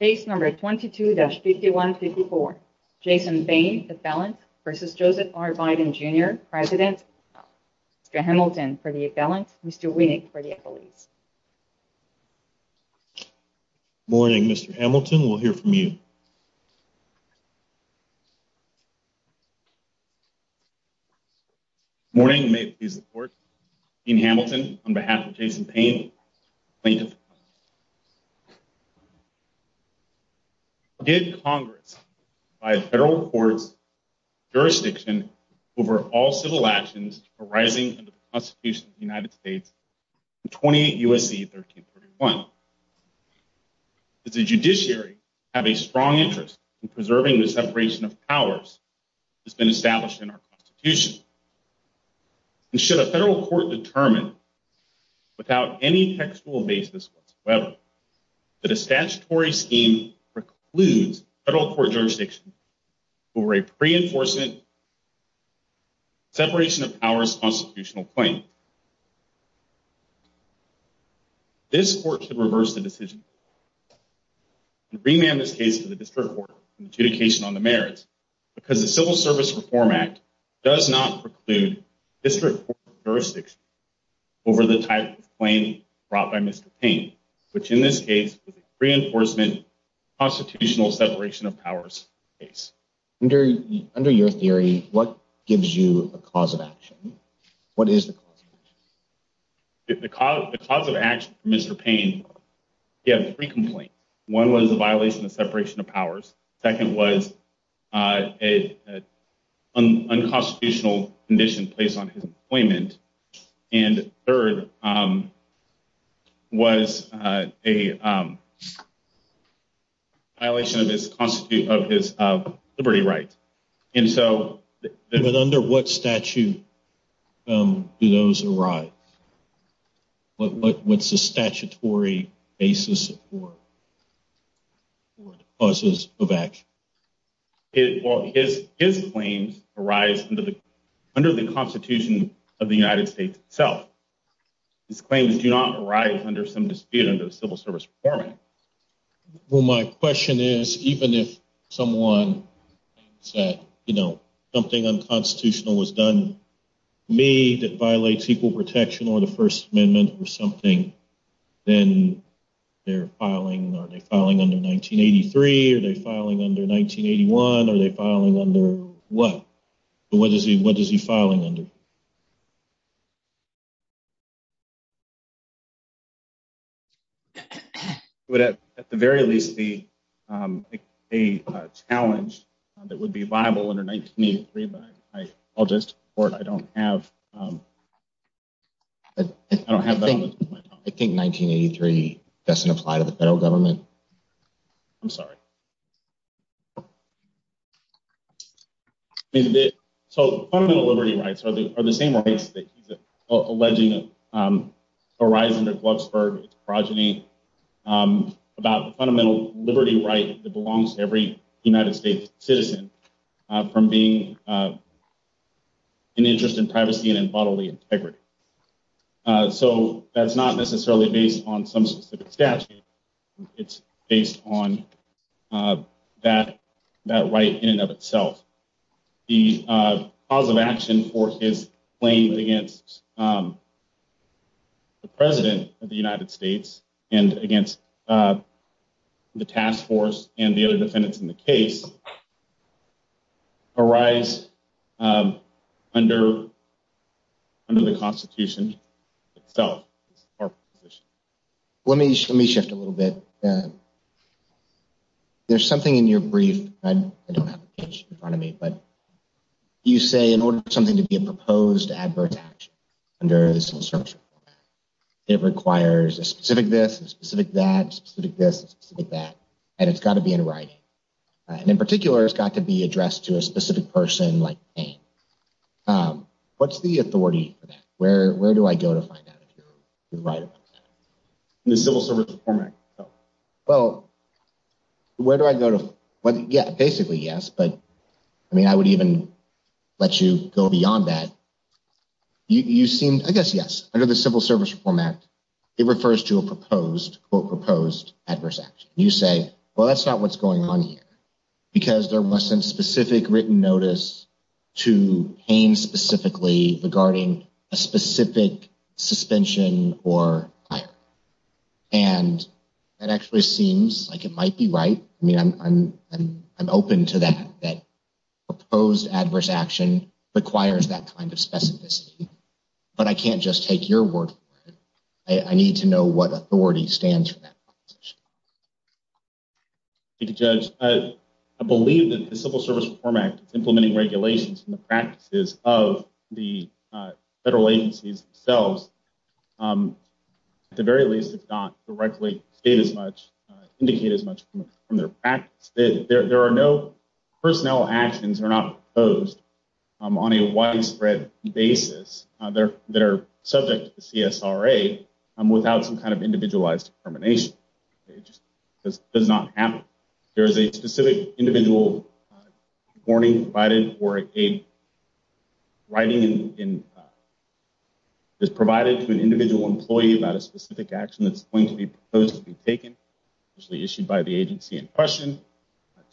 Case number 22-5154, Jason Payne, the felon, v. Joseph R. Biden, Jr., President, Mr. Hamilton for the felon, Mr. Winnick for the police. Morning, Mr. Hamilton, we'll hear from you. Morning, may it please the court. Dean Hamilton, on behalf of Jason Payne, plaintiff. Did Congress, by a federal court's jurisdiction, over all civil actions arising under the Constitution of the United States, 28 U.S.C. 1331? Does the judiciary have a strong interest in preserving the separation of powers that's been established in our Constitution? And should a federal court determine, without any textual basis whatsoever, that a statutory scheme precludes federal court jurisdiction over a pre-enforcement separation of powers constitutional claim? This court should reverse the decision and remand this case to the district court for adjudication on the merits, because the Civil Service Reform Act does not preclude district court jurisdiction over the type of claim brought by Mr. Payne, which in this case was a pre-enforcement constitutional separation of powers case. Under your theory, what gives you a cause of action? What is the cause? The cause of action for Mr. Payne, he had three complaints. One was a violation of separation of powers. Second was an unconstitutional condition placed on his employment. And third was a violation of his liberty rights. But under what statute do those arise? What's the statutory basis for the causes of action? His claims arise under the Constitution of the United States itself. His claims do not arise under some dispute under the Civil Service Reform Act. Well, my question is, even if someone said, you know, something unconstitutional was done to me that violates equal protection or the First Amendment or something, then they're filing, are they filing under 1983? Are they filing under 1981? Are they filing under what? What is he filing under? At the very least, a challenge that would be viable under 1983, but I'll just, I don't have, I don't have that on my time. I think 1983 doesn't apply to the federal government. I'm sorry. So, fundamental liberty rights are the same rights that he's alleging arise under Glucksberg's progeny about the fundamental liberty right that belongs to every United States citizen from being an interest in privacy and bodily integrity. So, that's not necessarily based on some specific statute. It's based on that right in and of itself. The cause of action for his claims against the President of the United States and against the task force and the other defendants in the case arise under the Constitution itself. Let me, let me shift a little bit. There's something in your brief, I don't have it in front of me, but you say in order for something to be a proposed advert action under this new structure, it requires a specific this, a specific that, a specific this, a specific that, and it's got to be in writing. And in particular, it's got to be addressed to a specific person like me. What's the authority for that? Where do I go to find out if you're right about that? The Civil Service Reform Act. Well, where do I go to, yeah, basically, yes, but I mean, I would even let you go beyond that. You seem, I guess, yes, under the Civil Service Reform Act, it refers to a proposed, quote, proposed adverse action. You say, well, that's not what's going on here because there wasn't specific written notice to Haines specifically regarding a specific suspension or fire. And that actually seems like it might be right. I mean, I'm, I'm, I'm open to that, that proposed adverse action requires that kind of specificity. But I can't just take your word for it. I need to know what authority stands for that. Thank you, Judge. I believe that the Civil Service Reform Act is implementing regulations from the practices of the federal agencies themselves. At the very least, it's not directly state as much, indicate as much from their practice. There are no personnel actions that are not proposed on a widespread basis that are subject to the CSRA without some kind of individualized determination. It just, it just does not happen. There is a specific individual warning provided or a writing in, is provided to an individual employee about a specific action that's going to be proposed to be taken, usually issued by the agency in question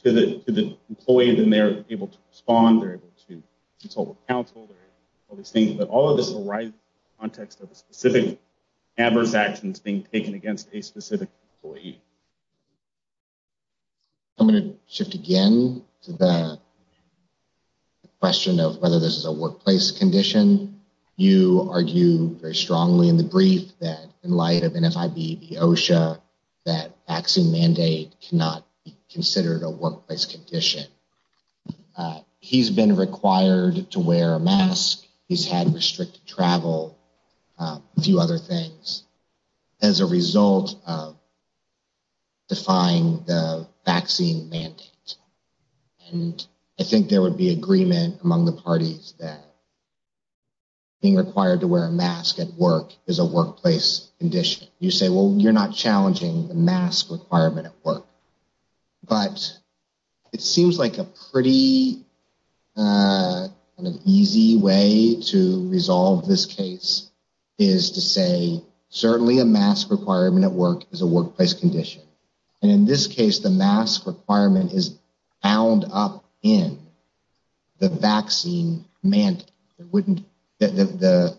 to the, to the employee. Then they're able to respond. They're able to consult with counsel. All of this arises in the context of specific adverse actions being taken against a specific employee. I'm going to shift again to the question of whether this is a workplace condition. You argue very strongly in the brief that in light of NFIB, the OSHA, that vaccine mandate cannot be considered a workplace condition. He's been required to wear a mask. He's had restricted travel, a few other things as a result of defying the vaccine mandate. And I think there would be agreement among the parties that being required to wear a mask at work is a workplace condition. You say, well, you're not challenging the mask requirement at work. But it seems like a pretty easy way to resolve this case is to say, certainly a mask requirement at work is a workplace condition. And in this case, the mask requirement is bound up in the vaccine mandate. The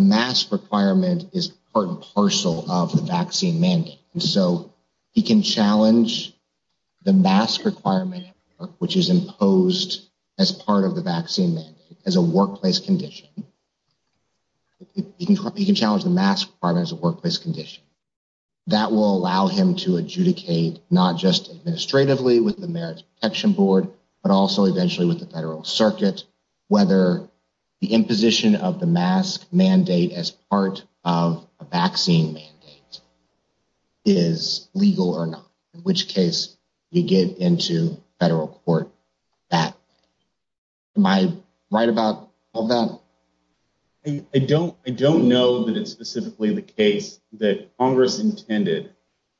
mask requirement is part and parcel of the vaccine mandate. And so he can challenge the mask requirement, which is imposed as part of the vaccine mandate, as a workplace condition. He can challenge the mask requirement as a workplace condition. That will allow him to adjudicate not just administratively with the Merit Protection Board, but also eventually with the federal circuit, whether the imposition of the mask mandate as part of a vaccine mandate. Is legal or not, in which case you get into federal court that. Am I right about that? I don't I don't know that it's specifically the case that Congress intended.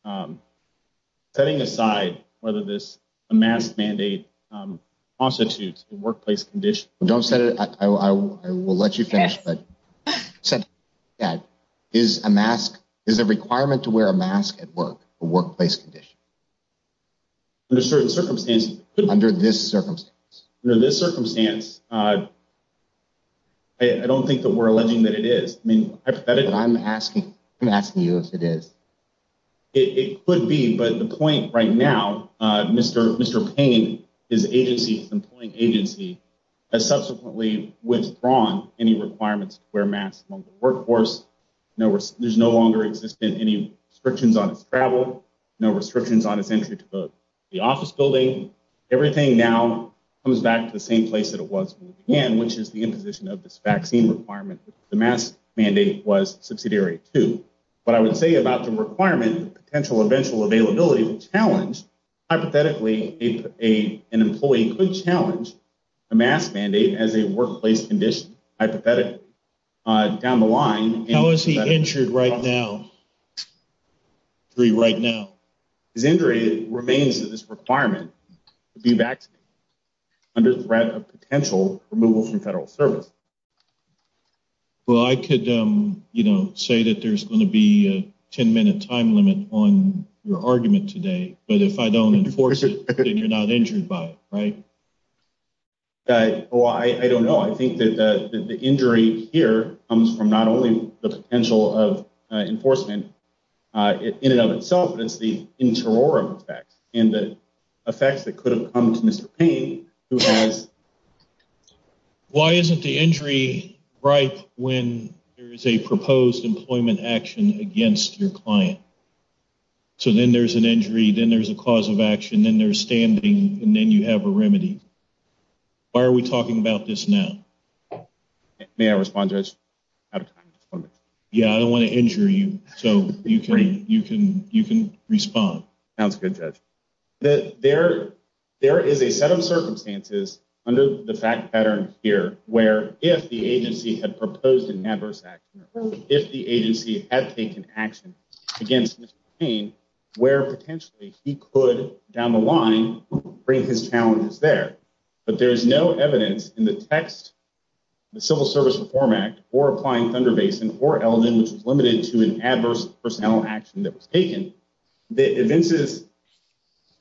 Setting aside whether this mask mandate constitutes a workplace condition. Don't set it. I will let you finish, but said that is a mask is a requirement to wear a mask at work, a workplace condition. Under certain circumstances, under this circumstance, under this circumstance. I don't think that we're alleging that it is. I mean, I'm asking I'm asking you if it is. It could be, but the point right now, Mr. Mr. Payne, his agency is employing agency as subsequently withdrawn any requirements where mass workforce. No, there's no longer exist in any restrictions on travel. No restrictions on his entry to the office building. Everything now comes back to the same place that it was again, which is the imposition of this vaccine requirement. The mask mandate was subsidiary to. But I would say about the requirement, potential eventual availability of a challenge. Hypothetically, an employee could challenge a mask mandate as a workplace condition. Hypothetically, down the line, how is he injured right now? Three right now, his injury remains this requirement to be back under threat of potential removal from federal service. Well, I could say that there's going to be a ten minute time limit on your argument today. But if I don't enforce it, you're not injured by it, right? Oh, I don't know. I think that the injury here comes from not only the potential of enforcement in and of itself, but it's the interim effect and the effects that could have come to Mr. Payne who has. Why isn't the injury right when there is a proposed employment action against your client? So then there's an injury, then there's a cause of action, then they're standing and then you have a remedy. Why are we talking about this now? May I respond to this? Yeah, I don't want to injure you. So you can you can you can respond. That's a good judge that there there is a set of circumstances under the fact pattern here, where if the agency had proposed an adverse act, if the agency had taken action against Mr. Payne, where potentially he could down the line bring his challenges there. But there is no evidence in the text, the Civil Service Reform Act or applying Thunder Basin or Eldon, which is limited to an adverse personnel action that was taken. The events is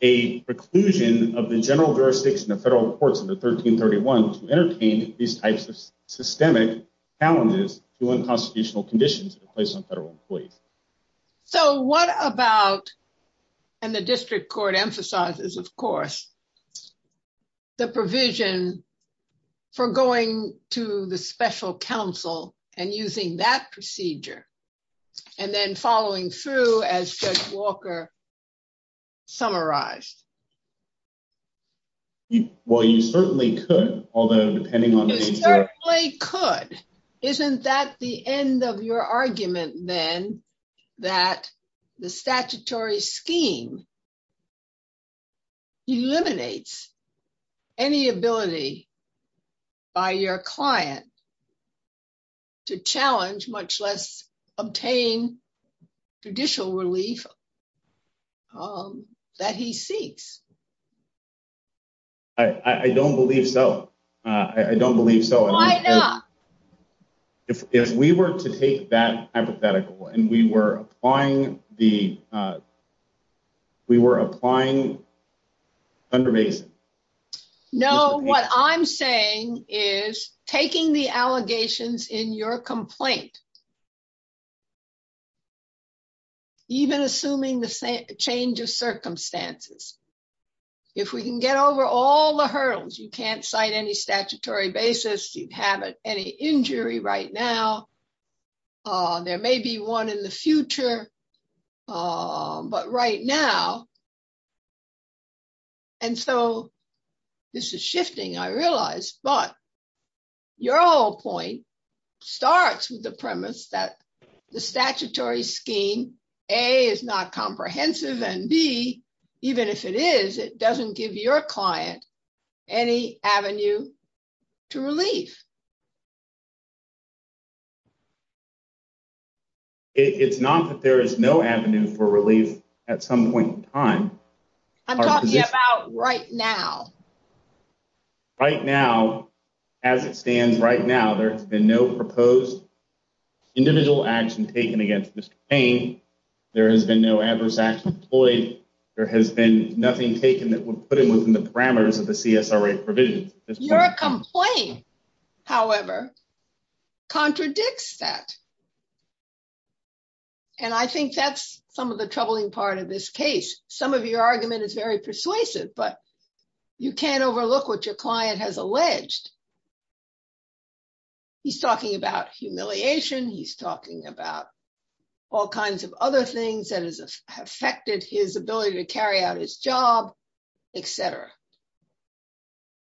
a preclusion of the general jurisdiction of federal courts in the 1331 to entertain these types of systemic challenges to unconstitutional conditions placed on federal employees. So what about and the district court emphasizes, of course. The provision for going to the special counsel and using that procedure and then following through as Walker. Summarize. Well, you certainly could, although depending on what I could, isn't that the end of your argument, then, that the statutory scheme. Eliminates any ability. By your client. To challenge, much less obtain judicial relief. That he seeks. I don't believe so. I don't believe so. Why not? If we were to take that hypothetical and we were applying the. We were applying. Under base. No, what I'm saying is taking the allegations in your complaint. Even assuming the same change of circumstances. If we can get over all the hurdles, you can't cite any statutory basis. You'd have any injury right now. There may be one in the future. But right now. And so. This is shifting. I realized, but. Your whole point starts with the premise that the statutory scheme. A is not comprehensive and B, even if it is, it doesn't give your client. Any avenue to relief. It's not that there is no avenue for relief at some point in time. I'm talking about right now. Right now, as it stands right now, there has been no proposed. Individual action taken against this pain. There has been no adverse action deployed. There has been nothing taken that would put him within the parameters of the provision. Your complaint, however. Contradicts that. And I think that's some of the troubling part of this case. Some of your argument is very persuasive, but you can't overlook what your client has alleged. He's talking about humiliation. He's talking about all kinds of other things that has affected his ability to carry out his job, etc.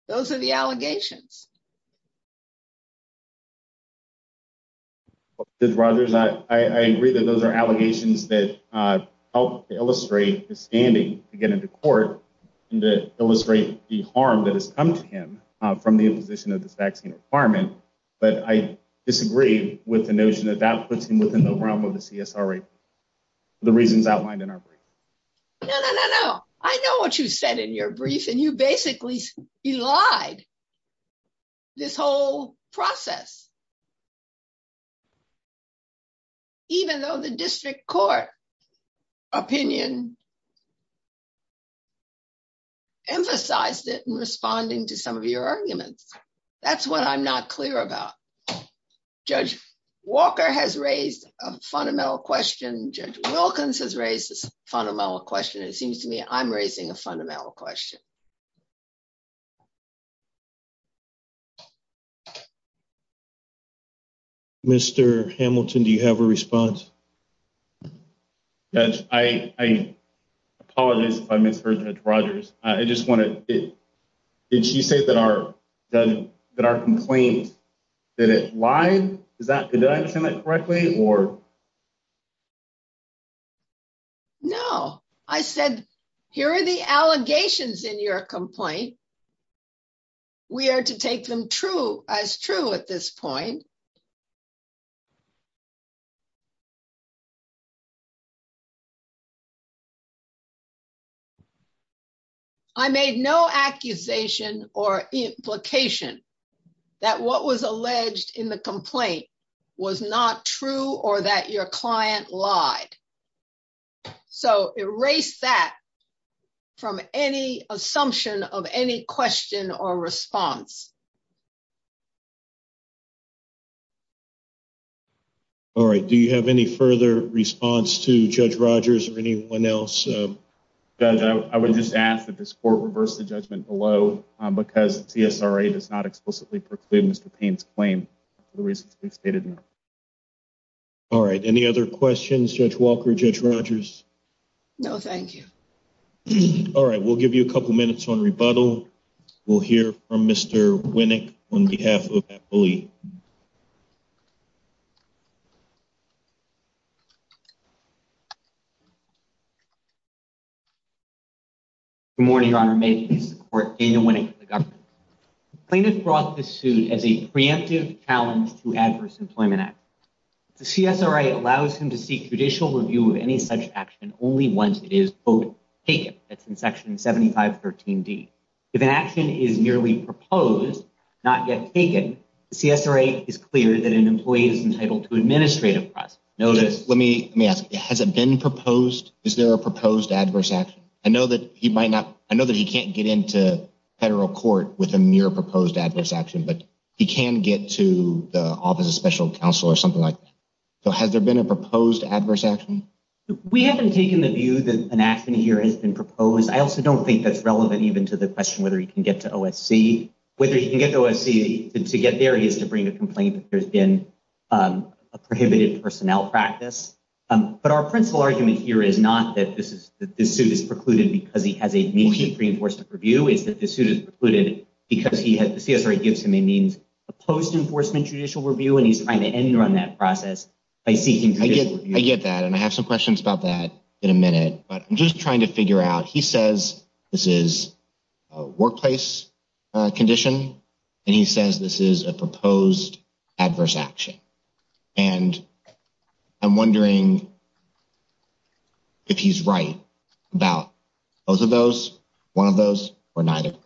Those are the allegations. Rogers, I agree that those are allegations that illustrate the standing to get into court and to illustrate the harm that has come to him from the imposition of this vaccine requirement. But I disagree with the notion that that puts him within the realm of the. The reasons outlined in our. No, no, no, no. I know what you said in your brief and you basically lied. This whole process. Even though the district court. Opinion. Emphasized it and responding to some of your arguments. That's what I'm not clear about. Judge Walker has raised a fundamental question. Judge Wilkins has raised this fundamental question. It seems to me I'm raising a fundamental question. Mr. Hamilton, do you have a response? Yes, I. Apologize if I misheard that Rogers. I just wanted it. Did she say that our that our complaint. Why is that? Did I understand that correctly or. No, I said, here are the allegations in your complaint. We are to take them true as true at this point. I made no accusation or implication. That what was alleged in the complaint was not true or that your client lied. So, erase that from any assumption of any question or response. All right. Do you have any further response to judge Rogers or anyone else? I would just ask that this court reverse the judgment below because it's not explicitly proclaims the pain's claim. The reason stated. All right. Any other questions? Judge Walker judge Rogers? No, thank you. All right. We'll give you a couple minutes on rebuttal. We'll hear from Mr. Rogers. Mr. Winnick, on behalf of. Good morning, your honor, maybe support in winning the government plaintiff brought the suit as a preemptive challenge to adverse employment act. The CSRA allows him to seek judicial review of any such action only once it is both. It's in section seventy five thirteen D. If an action is nearly proposed, not yet taken. The CSRA is clear that an employee is entitled to administrative notice. Let me ask, has it been proposed? Is there a proposed adverse action? I know that he might not. I know that he can't get into federal court with a mere proposed adverse action. But he can get to the office of special counsel or something like that. Has there been a proposed adverse action? We haven't taken the view that an action here has been proposed. I also don't think that's relevant even to the question whether he can get to OSC, whether he can get to OSC to get there. He has to bring a complaint that there's been a prohibited personnel practice. But our principal argument here is not that this is that this suit is precluded because he has a preenforcement review. It's that this suit is precluded because he had the CSRA gives him a means of post enforcement judicial review. And he's trying to end on that process by seeking. I get that. And I have some questions about that in a minute. But I'm just trying to figure out. He says this is a workplace condition. And he says this is a proposed adverse action. And I'm wondering if he's right about both of those, one of those or neither.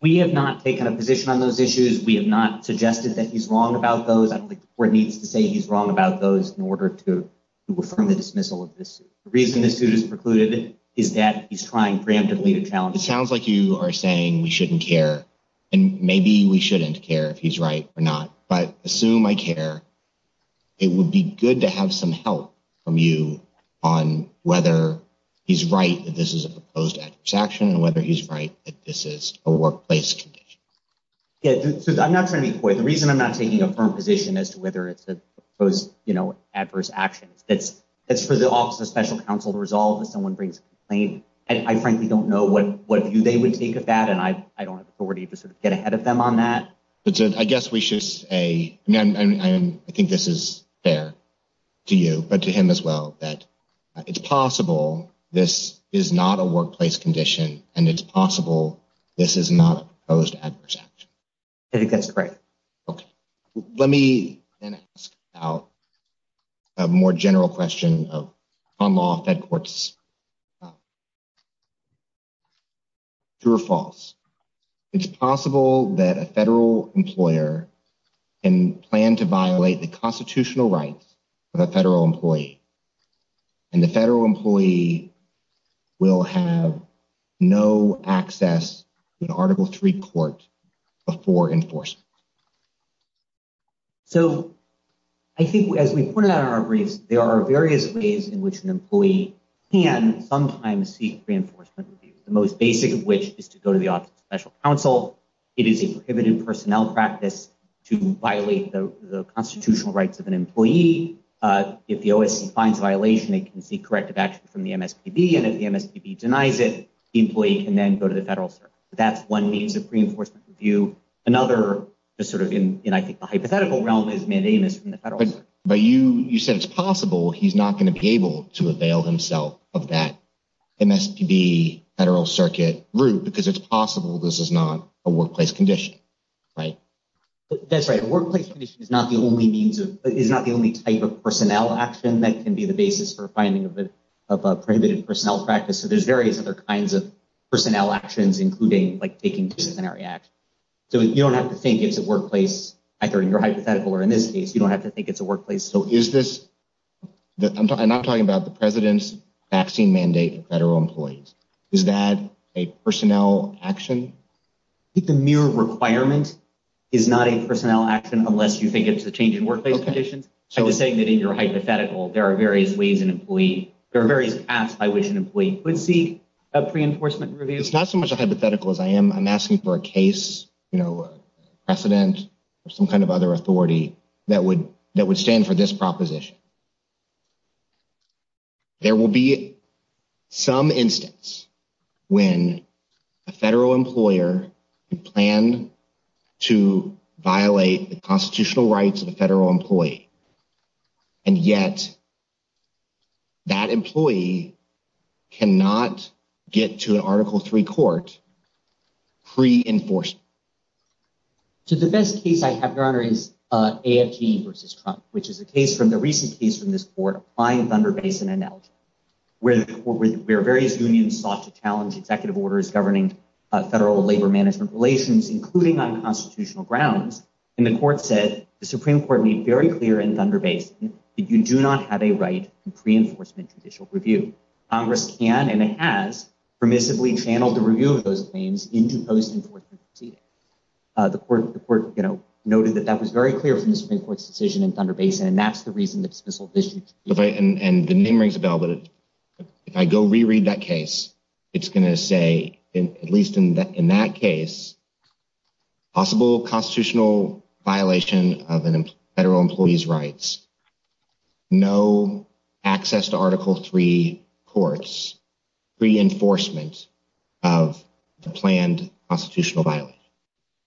We have not taken a position on those issues. We have not suggested that he's wrong about those where it needs to say he's wrong about those in order to affirm the dismissal of this. The reason this suit is precluded is that he's trying preemptively to challenge. It sounds like you are saying we shouldn't care and maybe we shouldn't care if he's right or not. But assume I care. It would be good to have some help from you on whether he's right. This is a proposed action and whether he's right. This is a workplace condition. I'm not trying to be coy. The reason I'm not taking a firm position as to whether it's a proposed adverse action. It's for the Office of Special Counsel to resolve if someone brings a complaint. And I frankly don't know what view they would take of that. And I don't have authority to get ahead of them on that. I guess we should say I think this is fair to you, but to him as well. That it's possible this is not a workplace condition and it's possible this is not a proposed adverse action. I think that's correct. Let me ask a more general question on law fed courts. True or false? It's possible that a federal employer can plan to violate the constitutional rights of a federal employee. And the federal employee will have no access to an Article III court before enforcement. So I think as we pointed out in our briefs, there are various ways in which an employee can sometimes seek reinforcement. The most basic of which is to go to the Office of Special Counsel. It is a prohibited personnel practice to violate the constitutional rights of an employee. If the OSC finds violation, it can seek corrective action from the MSPB. And if the MSPB denies it, the employee can then go to the federal circuit. That's one means of reinforcement review. Another just sort of in I think the hypothetical realm is mandamus from the federal circuit. But you said it's possible he's not going to be able to avail himself of that MSPB federal circuit route because it's possible this is not a workplace condition, right? That's right. A workplace condition is not the only type of personnel action that can be the basis for finding of a prohibited personnel practice. So there's various other kinds of personnel actions, including like taking disciplinary action. So you don't have to think it's a workplace, either in your hypothetical or in this case, you don't have to think it's a workplace. So is this I'm not talking about the president's vaccine mandate for federal employees. Is that a personnel action? The mere requirement is not a personnel action unless you think it's a change in workplace conditions. So you're saying that in your hypothetical, there are various ways an employee there are various paths by which an employee would seek a reinforcement review. It's not so much a hypothetical as I am. I'm asking for a case, you know, precedent or some kind of other authority that would that would stand for this proposition. There will be some instance when a federal employer planned to violate the constitutional rights of the federal employee. And yet. That employee cannot get to an article three court. Pre-enforcement. So the best case I have, Your Honor, is AFG versus Trump, which is a case from the recent case from this board applying Thunder Basin analogy. Where various unions sought to challenge executive orders governing federal labor management relations, including on constitutional grounds. And the court said the Supreme Court made very clear in Thunder Basin that you do not have a right to pre-enforcement judicial review. Congress can and has permissibly channeled the review of those claims into post-enforcement proceedings. The court, you know, noted that that was very clear from the Supreme Court's decision in Thunder Basin. And that's the reason that this whole issue. And the name rings a bell, but if I go reread that case, it's going to say, at least in that case. Possible constitutional violation of federal employees' rights. No access to Article three courts. Pre-enforcement of the planned constitutional violation.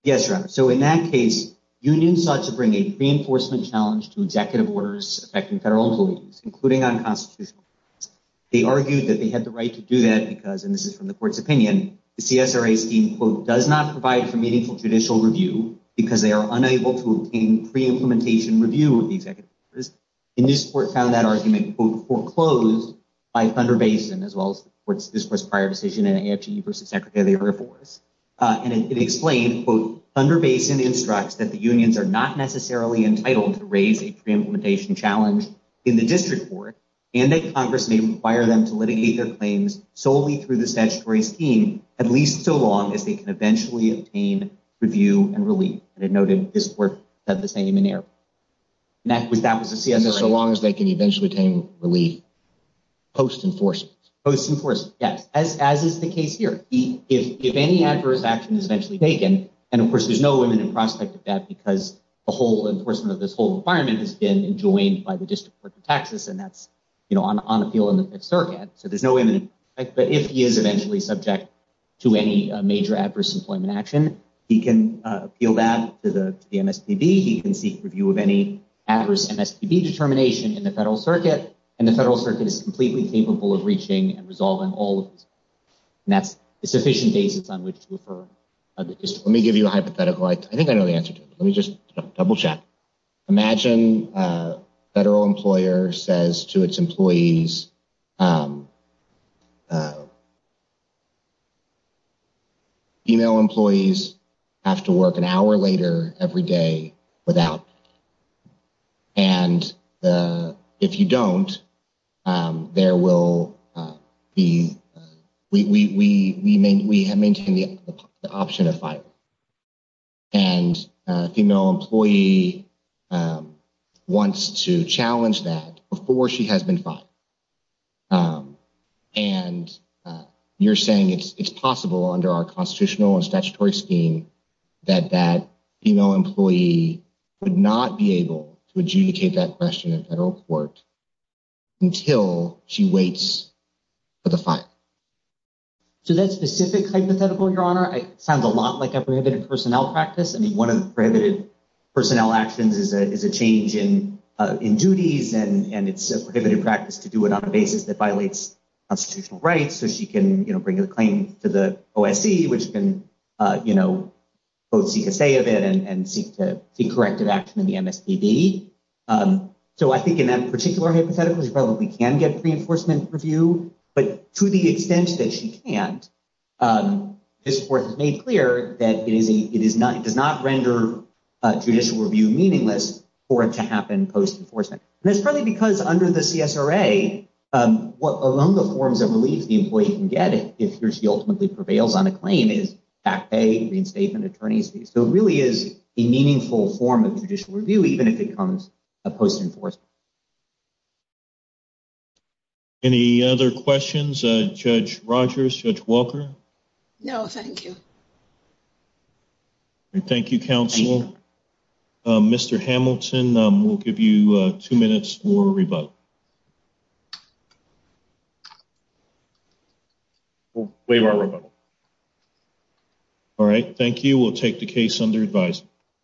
Yes, Your Honor. So in that case, unions sought to bring a pre-enforcement challenge to executive orders affecting federal employees, including on constitutional grounds. They argued that they had the right to do that because, and this is from the court's opinion, the CSRA scheme, quote, does not provide for meaningful judicial review because they are unable to obtain pre-implementation review of the executive orders. And this court found that argument, quote, foreclosed by Thunder Basin, as well as this court's prior decision in AFG versus Secretary of the Air Force. And it explained, quote, Thunder Basin instructs that the unions are not necessarily entitled to raise a pre-implementation challenge in the district court and that Congress may require them to litigate their claims solely through the statutory scheme, at least so long as they can eventually obtain review and relief. And it noted this court said the same in air. And that was that was the CSRA. So long as they can eventually obtain relief post-enforcement. Post-enforcement, yes. As is the case here. If any adverse action is eventually taken. And of course, there's no imminent prospect of that because the whole enforcement of this whole environment has been enjoined by the District Court of Texas. And that's, you know, on appeal in the Fifth Circuit. So there's no imminent prospect. But if he is eventually subject to any major adverse employment action, he can appeal that to the MSPB. He can seek review of any adverse MSPB determination in the federal circuit. And the federal circuit is completely capable of reaching and resolving all of this. And that's a sufficient basis on which to refer. Let me give you a hypothetical. I think I know the answer to it. Let me just double check. Imagine a federal employer says to its employees. Female employees have to work an hour later every day without. And if you don't, there will be. We have maintained the option of fire. And a female employee wants to challenge that before she has been fired. And you're saying it's possible under our constitutional and statutory scheme that that female employee would not be able to adjudicate that question in federal court. Until she waits for the fire. So that specific hypothetical, Your Honor, sounds a lot like a prohibited personnel practice. I mean, one of the prohibited personnel actions is a change in duties. And it's a prohibited practice to do it on a basis that violates constitutional rights. So she can bring a claim to the OSC, which can both seek a say of it and seek to see corrective action in the MSPB. So I think in that particular hypothetical, she probably can get reinforcement review. But to the extent that she can't, this court has made clear that it does not render judicial review meaningless for it to happen post-enforcement. And that's probably because under the CSRA, what among the forms of relief the employee can get if he or she ultimately prevails on a claim is back pay, reinstatement, attorney's fees. So it really is a meaningful form of judicial review, even if it comes post-enforcement. Any other questions? Judge Rogers? Judge Walker? No, thank you. Thank you, counsel. Mr. Hamilton, we'll give you two minutes for rebuttal. We'll waive our rebuttal. All right. Thank you. We'll take the case under advisory.